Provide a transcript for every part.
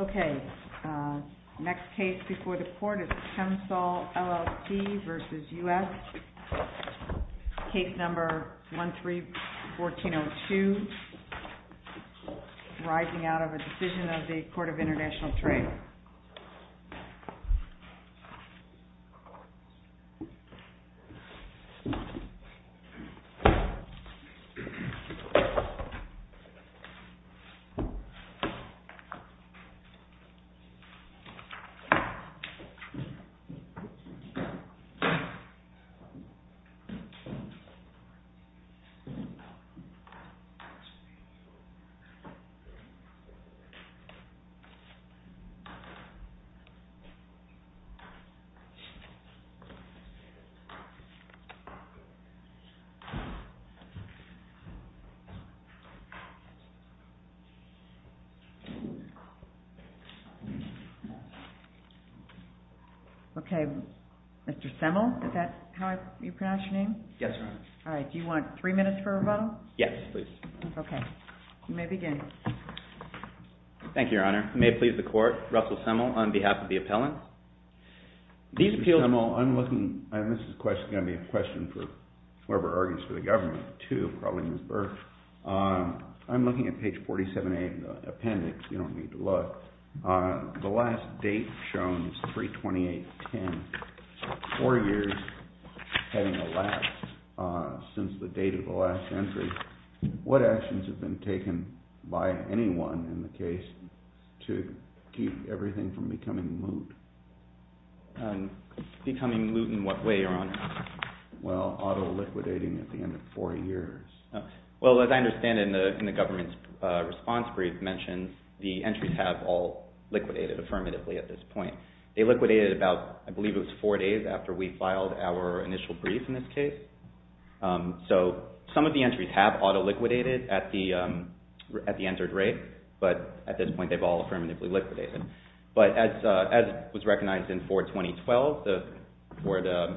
Okay, next case before the court is Chemsol, LLC v. United States Case number 131402, arising out of a decision of the Court of International Trade Okay, next case before the court is Chemsol, LLC v. United States Okay, Mr. Semel, is that how you pronounce your name? Yes, Your Honor. All right, do you want three minutes for a rebuttal? Yes, please. Okay, you may begin. Thank you, Your Honor. May it please the Court, Russell Semel, on behalf of the appellant. I'm looking, and this is going to be a question for whoever argues for the government, too, probably Ms. Burke. I'm looking at page 47A of the appendix. You don't need to look. The last date shown is 3-28-10, four years having elapsed since the date of the last entry. What actions have been taken by anyone in the case to keep everything from becoming moot? Becoming moot in what way, Your Honor? Well, auto-liquidating at the end of four years. Well, as I understand it in the government's response brief mentioned, the entries have all liquidated affirmatively at this point. They liquidated about, I believe it was four days after we filed our initial brief in this case. So some of the entries have auto-liquidated at the entered rate, but at this point they've all affirmatively liquidated. But as was recognized in Ford 2012, the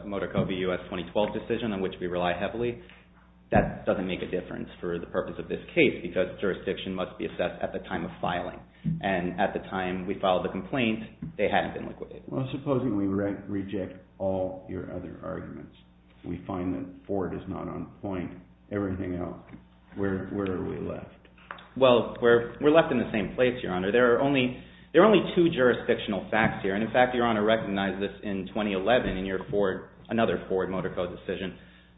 Motor Co. v. U.S. 2012 decision on which we rely heavily, that doesn't make a difference for the purpose of this case because jurisdiction must be assessed at the time of filing. And at the time we filed the complaint, they hadn't been liquidated. Well, supposing we reject all your other arguments, we find that Ford is not on point, everything else, where are we left? Well, we're left in the same place, Your Honor. There are only two jurisdictional facts here. And in fact, Your Honor, recognize this in 2011 in another Ford Motor Co. decision.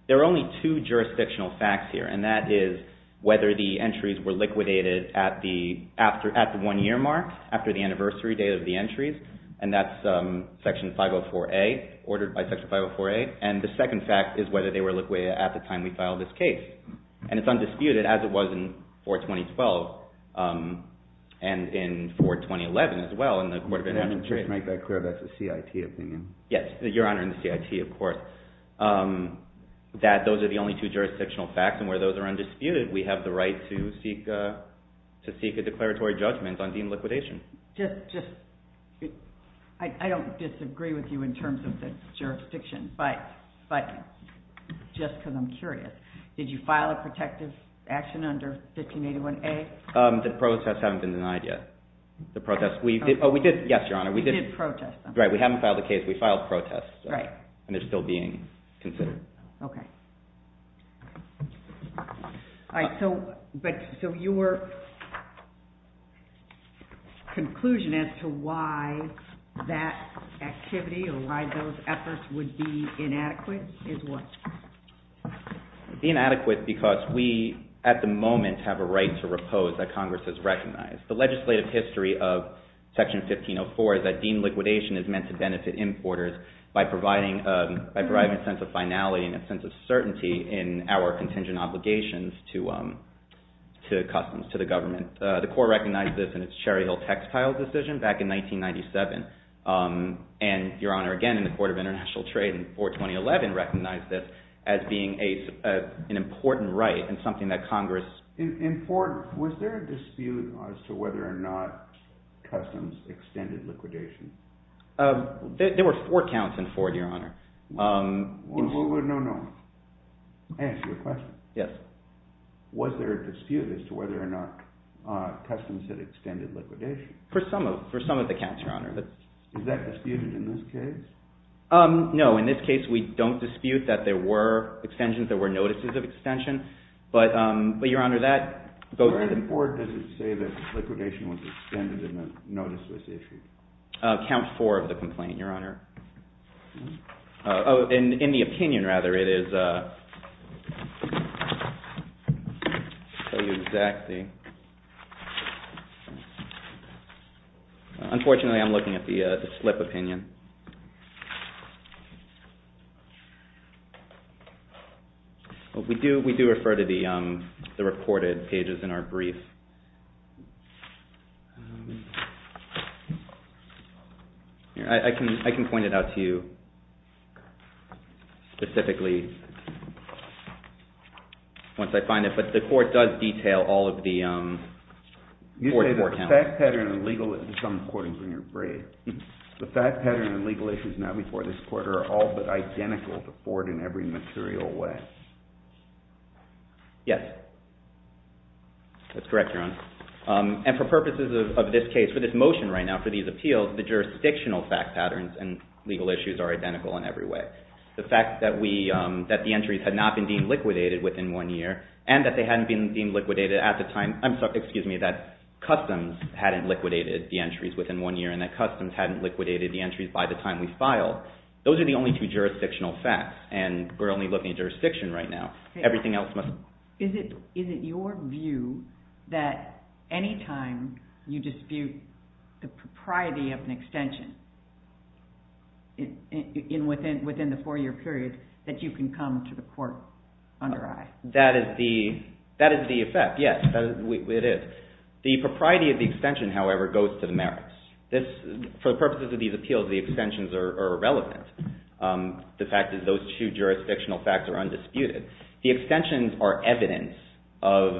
There are only two jurisdictional facts here, and that is whether the entries were liquidated at the one-year mark, after the anniversary date of the entries, and that's Section 504A, ordered by Section 504A. And the second fact is whether they were liquidated at the time we filed this case. And it's undisputed, as it was in Ford 2012 and in Ford 2011 as well in the Court of Administrative. Let me just make that clear, that's a CIT opinion. Yes, Your Honor, in the CIT, of course. That those are the only two jurisdictional facts, and where those are undisputed, we have the right to seek a declaratory judgment on deemed liquidation. I don't disagree with you in terms of the jurisdiction, but just because I'm curious, did you file a protective action under 1581A? The protests haven't been denied yet. The protests, we did, yes, Your Honor. You did protest them. Right, we haven't filed a case. We filed protests. Right. And they're still being considered. Okay. All right, so your conclusion as to why that activity or why those efforts would be inadequate is what? It would be inadequate because we, at the moment, have a right to repose that Congress has recognized. The legislative history of Section 1504 is that deemed liquidation is meant to benefit importers by providing a sense of finality and a sense of certainty in our contingent obligations to customs, to the government. The Court recognized this in its Cherry Hill textiles decision back in 1997, and Your Honor, again, in the Court of International Trade in 42011, recognized this as being an important right and something that Congress. Was there a dispute as to whether or not customs extended liquidation? There were four counts in Ford, Your Honor. Well, no, no. May I ask you a question? Yes. Was there a dispute as to whether or not customs had extended liquidation? For some of the counts, Your Honor. Is that disputed in this case? No, in this case, we don't dispute that there were extensions, there were notices of extension. But, Your Honor, that goes to the court. Where does it say that liquidation was extended and that notice was issued? Count four of the complaint, Your Honor. In the opinion, rather, it is. I'll tell you exactly. Unfortunately, I'm looking at the slip opinion. We do refer to the recorded pages in our brief. I can point it out to you specifically once I find it, but the court does detail all of the Ford's four counts. You say the fact pattern of legalism is important in your brief. The fact pattern of legal issues now before this court are all but identical to Ford in every material way. Yes. That's correct, Your Honor. And for purposes of this case, for this motion right now, for these appeals, the jurisdictional fact patterns and legal issues are identical in every way. The fact that the entries had not been deemed liquidated within one year and that customs hadn't liquidated the entries within one year and that customs hadn't liquidated the entries by the time we filed, those are the only two jurisdictional facts and we're only looking at jurisdiction right now. Is it your view that anytime you dispute the propriety of an extension within the four-year period that you can come to the court under eye? That is the effect, yes. It is. The propriety of the extension, however, goes to the merits. For the purposes of these appeals, the extensions are irrelevant. The fact is those two jurisdictional facts are undisputed. The extensions are evidence of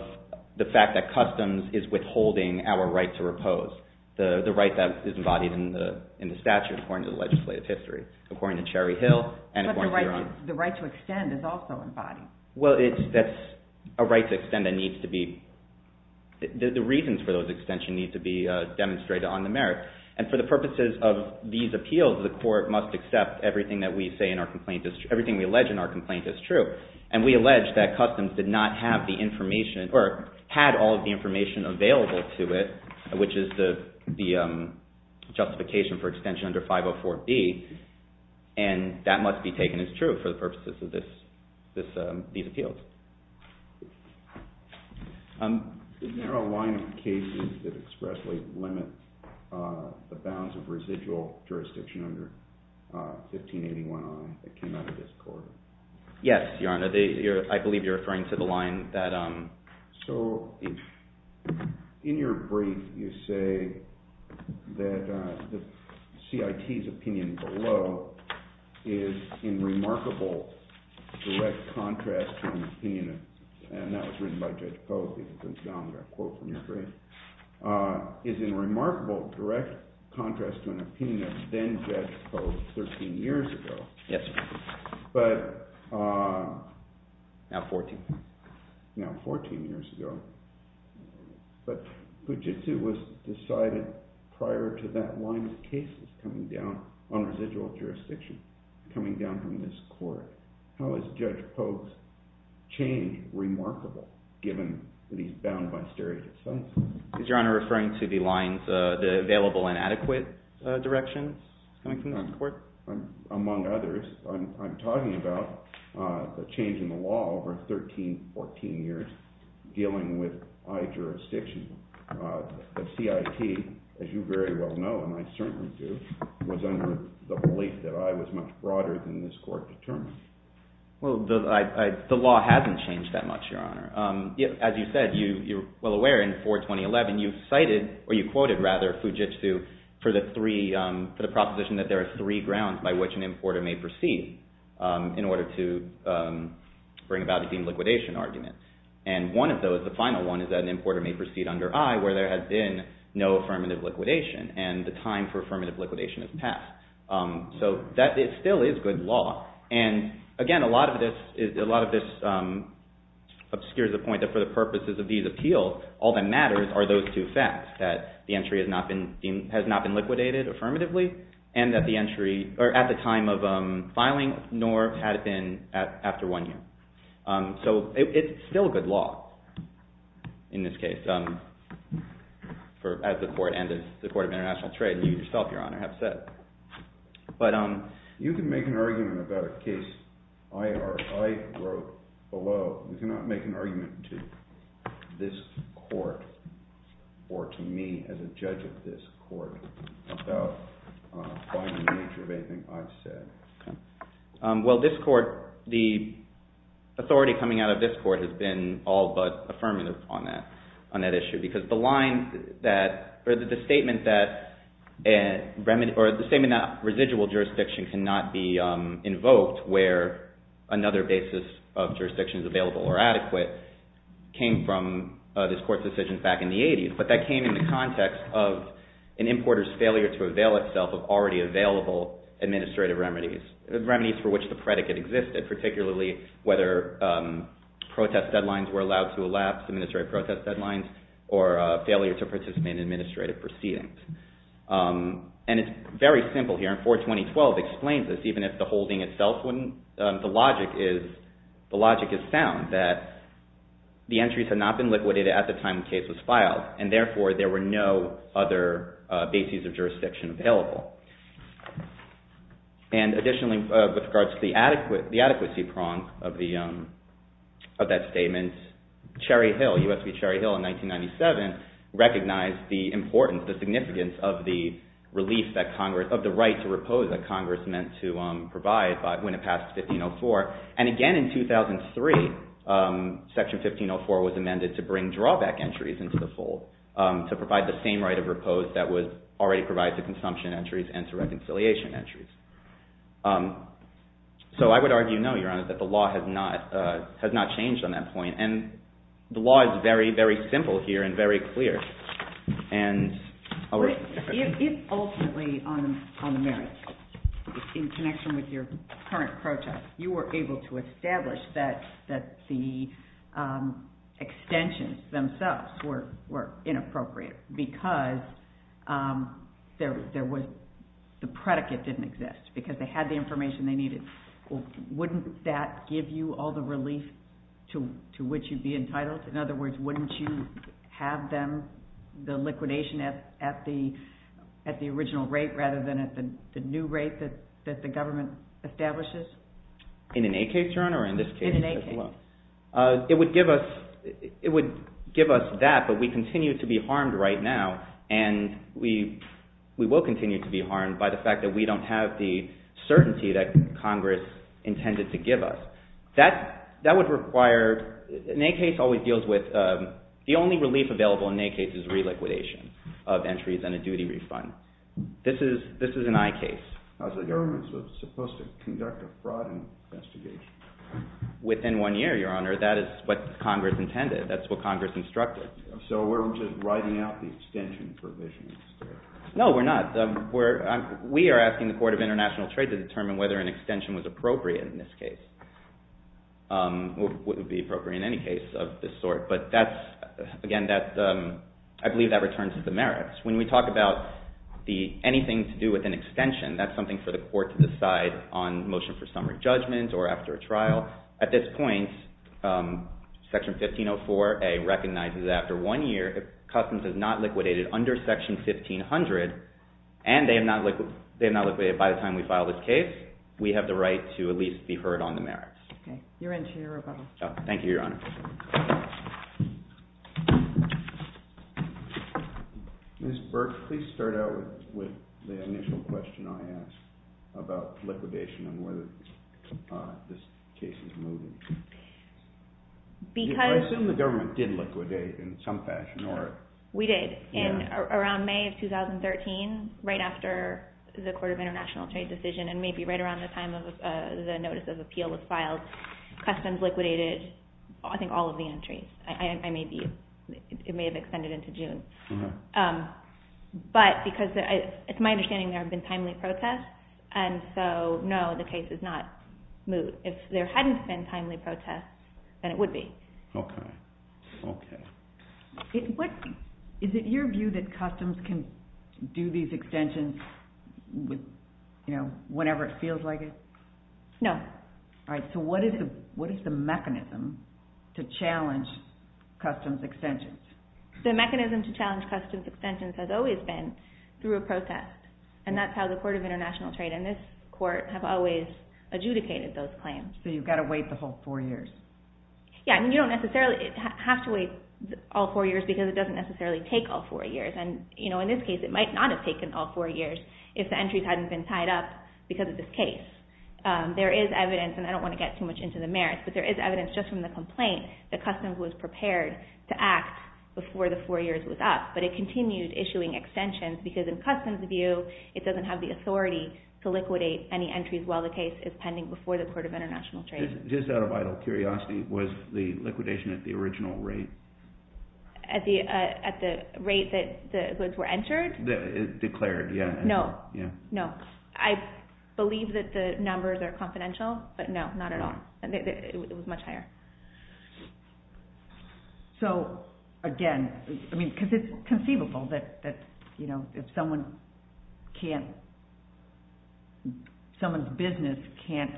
the fact that customs is withholding our right to repose, the right that is embodied in the statute according to the legislative history, according to Cherry Hill and according to your Honor. But the right to extend is also embodied. Well, that's a right to extend that needs to be – the reasons for those extensions need to be demonstrated on the merits. And for the purposes of these appeals, the court must accept everything that we say in our complaint – everything we allege in our complaint is true. And we allege that customs did not have the information or had all of the information available to it, which is the justification for extension under 504B, and that must be taken as true for the purposes of these appeals. Isn't there a line of cases that expressly limit the bounds of residual jurisdiction under 1581I that came out of this court? Yes, Your Honor. I believe you're referring to the line that – So in your brief, you say that the CIT's opinion below is in remarkable direct contrast to an opinion – and that was written by Judge Posey, the denominator quote from your brief – is in remarkable direct contrast to an opinion of then-Judge Posey 13 years ago. Yes, sir. But – Now 14. Now 14 years ago. But Puget Sou was decided prior to that line of cases coming down on residual jurisdiction, coming down from this court. How is Judge Posey's change remarkable, given that he's bound by steric assumption? Is Your Honor referring to the lines – the available and adequate directions coming from that court? Among others, I'm talking about the change in the law over 13, 14 years dealing with I jurisdiction. The CIT, as you very well know, and I certainly do, was under the belief that I was much broader than this court determined. Well, the law hasn't changed that much, Your Honor. As you said, you're well aware in 42011 you cited – or you quoted, rather, Puget Sou for the three – for the proposition that there are three grounds by which an importer may proceed in order to bring about a deemed liquidation argument. And one of those, the final one, is that an importer may proceed under I where there has been no affirmative liquidation and the time for affirmative liquidation has passed. So that still is good law. And again, a lot of this obscures the point that for the purposes of these appeals, all that matters are those two facts, that the entry has not been liquidated affirmatively and that the entry – or at the time of filing nor had it been after one year. So it's still good law in this case, as the Court and the Court of International Trade and you yourself, Your Honor, have said. But – You can make an argument about a case I wrote below. You cannot make an argument to this court or to me as a judge of this court about the nature of anything I've said. Well, this court – the authority coming out of this court has been all but affirmative on that issue because the line that – or the statement that – or the statement that residual jurisdiction cannot be invoked where another basis of jurisdiction is available or adequate came from this court's decision back in the 80s. But that came in the context of an importer's failure to avail itself of already available administrative remedies, remedies for which the predicate existed, particularly whether protest deadlines were allowed to elapse, administrative protest deadlines, or failure to participate in administrative proceedings. And it's very simple here. And 42012 explains this, even if the holding itself wouldn't. The logic is – the logic is sound, that the entries had not been liquidated at the time the case was filed, and therefore there were no other bases of jurisdiction available. And additionally, with regards to the adequacy prong of that statement, Cherry Hill, U.S. v. Cherry Hill in 1997, recognized the importance, the significance of the release that Congress – of the right to repose that Congress meant to provide when it passed 1504. And again, in 2003, Section 1504 was amended to bring drawback entries into the fold to provide the same right of repose that was already provided to consumption entries and to reconciliation entries. So I would argue, no, Your Honor, that the law has not – has not changed on that point. And the law is very, very simple here and very clear. And – But if ultimately on the merits, in connection with your current protest, you were able to establish that the extensions themselves were inappropriate because there was – the predicate didn't exist, because they had the information they needed, wouldn't that give you all the relief to which you'd be entitled? In other words, wouldn't you have them – the liquidation at the original rate rather than at the new rate that the government establishes? In an A case, Your Honor, or in this case as well? In an A case. It would give us – it would give us that, but we continue to be harmed right now, and we will continue to be harmed by the fact that we don't have the certainty that Congress intended to give us. That would require – an A case always deals with – the only relief available in an A case is reliquidation of entries and a duty refund. This is an I case. So the government is supposed to conduct a fraud investigation? Within one year, Your Honor. That is what Congress intended. That's what Congress instructed. So we're just writing out the extension provisions? No, we're not. We are asking the Court of International Trade to determine whether an extension was appropriate in this case, or would be appropriate in any case of this sort. But that's – again, I believe that returns to the merits. When we talk about anything to do with an extension, that's something for the Court to decide on motion for summary judgment or after a trial. At this point, Section 1504A recognizes that after one year, if Customs has not liquidated under Section 1500, and they have not liquidated by the time we file this case, we have the right to at least be heard on the merits. You're into your rebuttal. Thank you, Your Honor. Ms. Burke, please start out with the initial question I asked about liquidation and whether this case is moving. Because – I assume the government did liquidate in some fashion, or – We did. Around May of 2013, right after the Court of International Trade decision, and maybe right around the time of the notice of appeal was filed, Customs liquidated, I think, all of the entries. It may have extended into June. But because it's my understanding there have been timely protests, and so no, the case is not moved. If there hadn't been timely protests, then it would be. Okay. Is it your view that Customs can do these extensions whenever it feels like it? No. All right. So what is the mechanism to challenge Customs extensions? The mechanism to challenge Customs extensions has always been through a protest, and that's how the Court of International Trade and this Court have always adjudicated those claims. So you've got to wait the whole four years. Yeah, and you don't necessarily have to wait all four years because it doesn't necessarily take all four years. And, you know, in this case it might not have taken all four years if the entries hadn't been tied up because of this case. There is evidence, and I don't want to get too much into the merits, but there is evidence just from the complaint that Customs was prepared to act before the four years was up. But it continued issuing extensions because, in Customs' view, it doesn't have the authority to liquidate any entries while the case is pending before the Court of International Trade. Just out of idle curiosity, was the liquidation at the original rate? At the rate that the goods were entered? Declared, yeah. No. No. I believe that the numbers are confidential, but no, not at all. It was much higher. So, again, I mean, because it's conceivable that, you know, if someone's business can't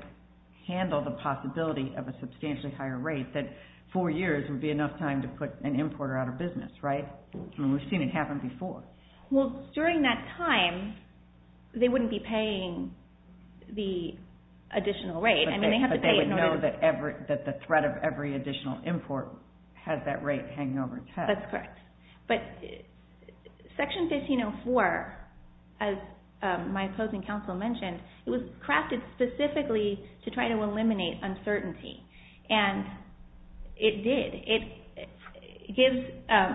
handle the possibility of a substantially higher rate, that four years would be enough time to put an importer out of business, right? I mean, we've seen it happen before. Well, during that time, they wouldn't be paying the additional rate. But they would know that the threat of every additional import has that rate hanging over its head. That's correct. But Section 1504, as my opposing counsel mentioned, it was crafted specifically to try to eliminate uncertainty. And it did. It gives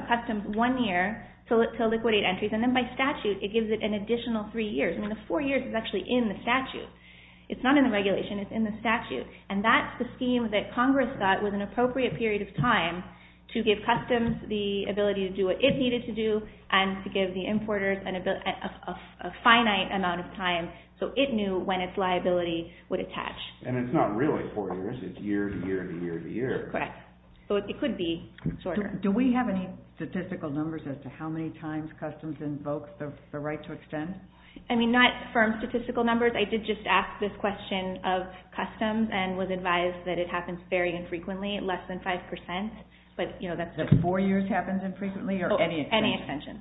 Customs one year to liquidate entries, and then by statute it gives it an additional three years. I mean, the four years is actually in the statute. It's not in the regulation. It's in the statute. And that's the scheme that Congress thought was an appropriate period of time to give Customs the ability to do what it needed to do and to give the importers a finite amount of time so it knew when its liability would attach. And it's not really four years. It's year to year to year to year. Correct. So it could be shorter. Do we have any statistical numbers as to how many times Customs invokes the right to extend? I mean, not firm statistical numbers. I did just ask this question of Customs and was advised that it happens very infrequently, less than 5%. That four years happens infrequently or any extensions?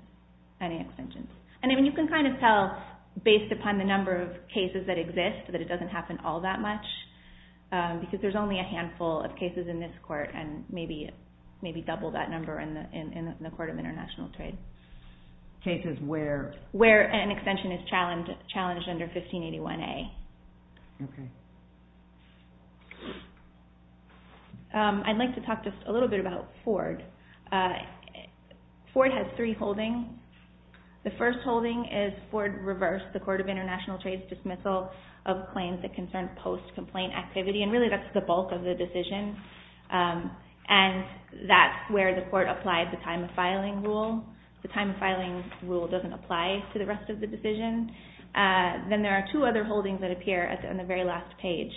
Any extensions. And you can kind of tell based upon the number of cases that exist that it doesn't happen all that much because there's only a handful of cases in this court and maybe double that number in the Court of International Trade. Cases where? Where an extension is challenged under 1581A. Okay. I'd like to talk just a little bit about Ford. Ford has three holdings. The first holding is Ford reverse, the Court of International Trade's dismissal of claims that concern post-complaint activity. And really that's the bulk of the decision. And that's where the Court applied the time of filing rule. The time of filing rule doesn't apply to the rest of the decision. Then there are two other holdings that appear on the very last page.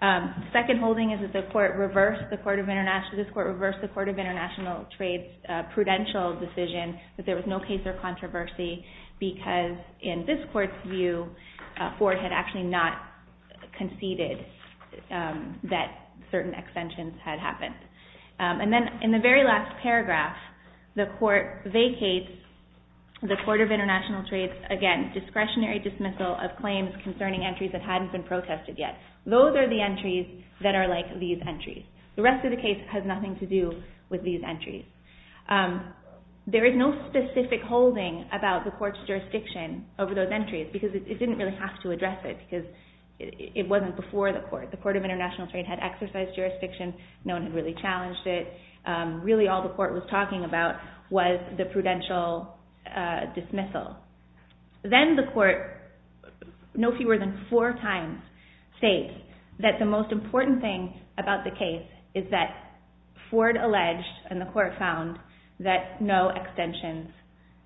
The second holding is that this Court reversed the Court of International Trade's prudential decision that there was no case or controversy because in this Court's view, Ford had actually not conceded that certain extensions had happened. And then in the very last paragraph, the Court vacates the Court of International Trade's, again, discretionary dismissal of claims concerning entries that hadn't been protested yet. Those are the entries that are like these entries. The rest of the case has nothing to do with these entries. There is no specific holding about the Court's jurisdiction over those entries because it didn't really have to address it because it wasn't before the Court. The Court of International Trade had exercised jurisdiction. No one had really challenged it. Really all the Court was talking about was the prudential dismissal. Then the Court, no fewer than four times, states that the most important thing about the case is that Ford alleged, and the Court found, that no extensions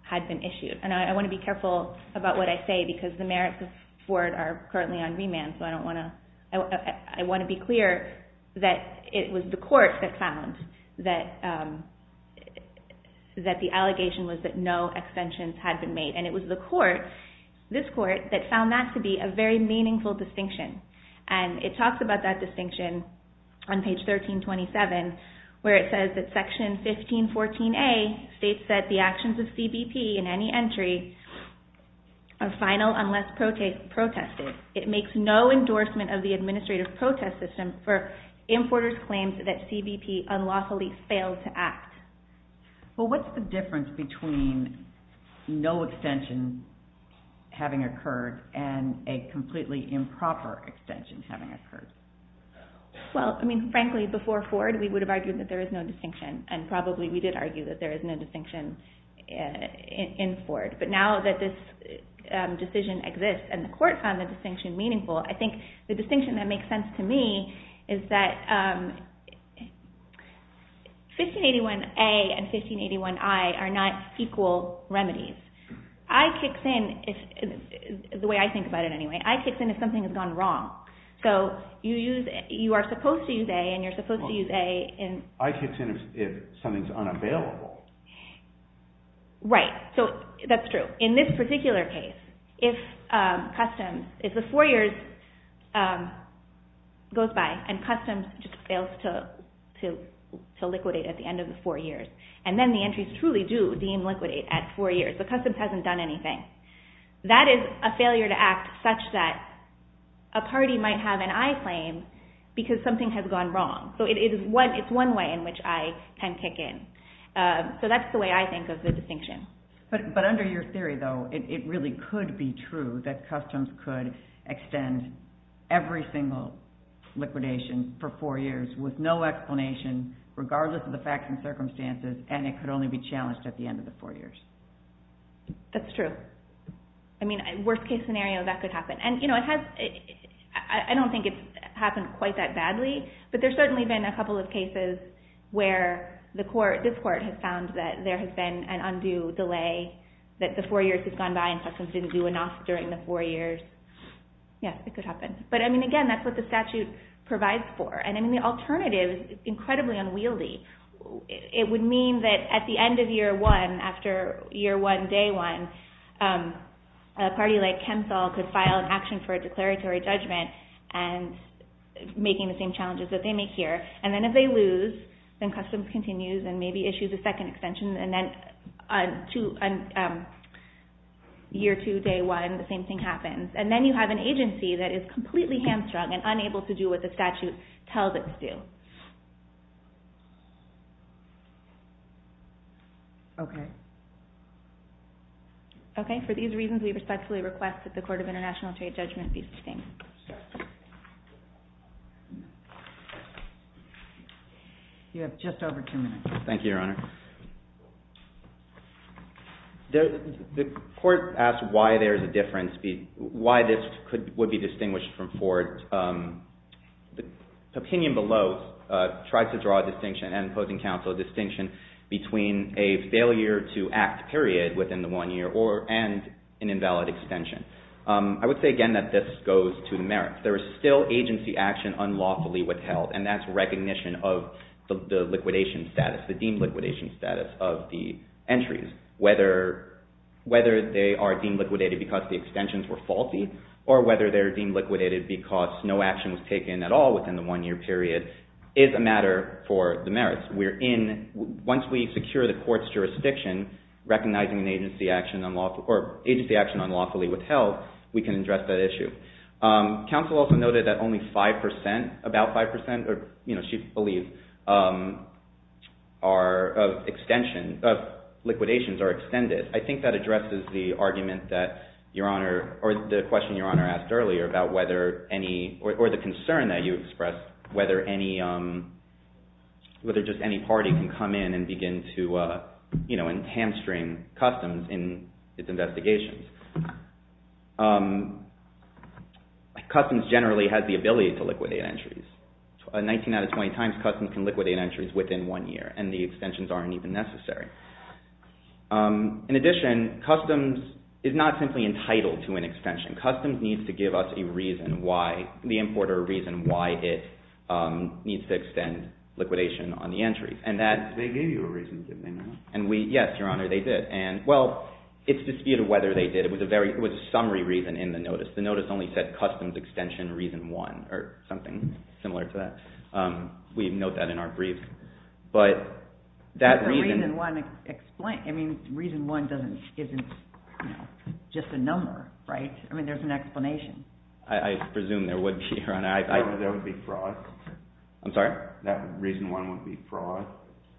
had been issued. And I want to be careful about what I say because the merits of Ford are currently on remand, so I want to be clear that it was the Court that found that the allegation was that no extensions had been made. And it was the Court, this Court, that found that to be a very meaningful distinction. And it talks about that distinction on page 1327 where it says that section 1514A states that the actions of CBP in any entry are final unless protested. It makes no endorsement of the administrative protest system for importers' claims that CBP unlawfully failed to act. Well, what's the difference between no extension having occurred and a completely improper extension having occurred? Well, I mean, frankly, before Ford, we would have argued that there is no distinction. And probably we did argue that there is no distinction in Ford. But now that this decision exists and the Court found the distinction meaningful, I think the distinction that makes sense to me is that 1581A and 1581I are not equal remedies. I kicks in, the way I think about it anyway, I kicks in if something has gone wrong. So you are supposed to use A and you're supposed to use A. I kicks in if something is unavailable. Right, so that's true. In this particular case, if the four years goes by and Customs just fails to liquidate at the end of the four years and then the entries truly do deem liquidate at four years, the Customs hasn't done anything. That is a failure to act such that a party might have an I claim because something has gone wrong. So it's one way in which I can kick in. So that's the way I think of the distinction. But under your theory, though, it really could be true that Customs could extend every single liquidation for four years with no explanation, regardless of the facts and circumstances, and it could only be challenged at the end of the four years. That's true. I mean, worst-case scenario, that could happen. And I don't think it's happened quite that badly, but there's certainly been a couple of cases where this court has found that there has been an undue delay, that the four years has gone by and Customs didn't do enough during the four years. Yes, it could happen. But, I mean, again, that's what the statute provides for. And the alternative is incredibly unwieldy. It would mean that at the end of year one, after year one, day one, a party like ChemSol could file an action for a declaratory judgment and making the same challenges that they make here. And then if they lose, then Customs continues and maybe issues a second extension, and then year two, day one, the same thing happens. And then you have an agency that is completely hamstrung and unable to do what the statute tells it to do. Okay. Okay, for these reasons, we respectfully request that the Court of International Trade Judgment be sustained. You have just over two minutes. Thank you, Your Honor. The court asked why there's a difference, why this would be distinguished from Ford. The opinion below tries to draw a distinction, and opposing counsel, a distinction between a failure to act period within the one year and an invalid extension. I would say again that this goes to the merits. There is still agency action unlawfully withheld, and that's recognition of the liquidation status, the deemed liquidation status of the entries. Whether they are deemed liquidated because the extensions were faulty or whether they're deemed liquidated because no action was taken at all within the one-year period is a matter for the merits. Once we secure the court's jurisdiction, recognizing an agency action unlawfully withheld, we can address that issue. Counsel also noted that only 5%, about 5%, or she believes liquidations are extended. I think that addresses the argument that Your Honor, or the question Your Honor asked earlier about whether any, or the concern that you expressed, whether just any party can come in and begin to hamstring customs in its investigations. Customs generally has the ability to liquidate entries. 19 out of 20 times, customs can liquidate entries within one year, and the extensions aren't even necessary. In addition, customs is not simply entitled to an extension. Customs needs to give us a reason why, the importer a reason why it needs to extend liquidation on the entries. They gave you a reason, didn't they, Your Honor? Yes, Your Honor, they did. Well, it's disputed whether they did. It was a summary reason in the notice. The notice only said customs extension reason one, or something similar to that. We note that in our brief. But that reason… Reason one isn't just a number, right? I mean, there's an explanation. I presume there would be, Your Honor. There would be fraud. I'm sorry? That reason one would be fraud.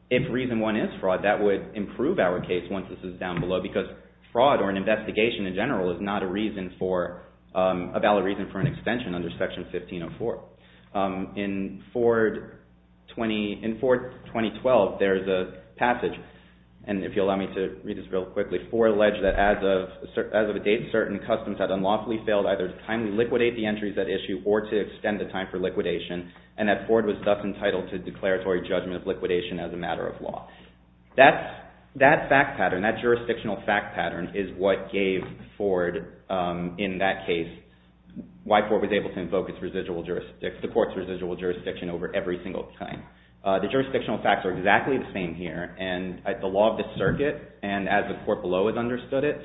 If reason one is fraud, that would improve our case once this is down below, because fraud or an investigation in general is not a valid reason for an extension under Section 1504. In Ford 2012, there's a passage, and if you'll allow me to read this real quickly, that as of a date certain customs had unlawfully failed either to timely liquidate the entries at issue or to extend the time for liquidation, and that Ford was thus entitled to declaratory judgment of liquidation as a matter of law. That fact pattern, that jurisdictional fact pattern, is what gave Ford, in that case, why Ford was able to invoke the Court's residual jurisdiction over every single time. The jurisdictional facts are exactly the same here. And the law of the circuit, and as the Court below has understood it,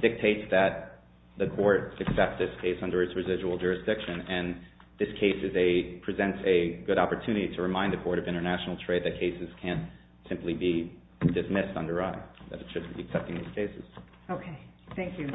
dictates that the Court accept this case under its residual jurisdiction, and this case presents a good opportunity to remind the Court of international trade that cases can't simply be dismissed under I, that it shouldn't be accepting these cases. Okay. Thank you.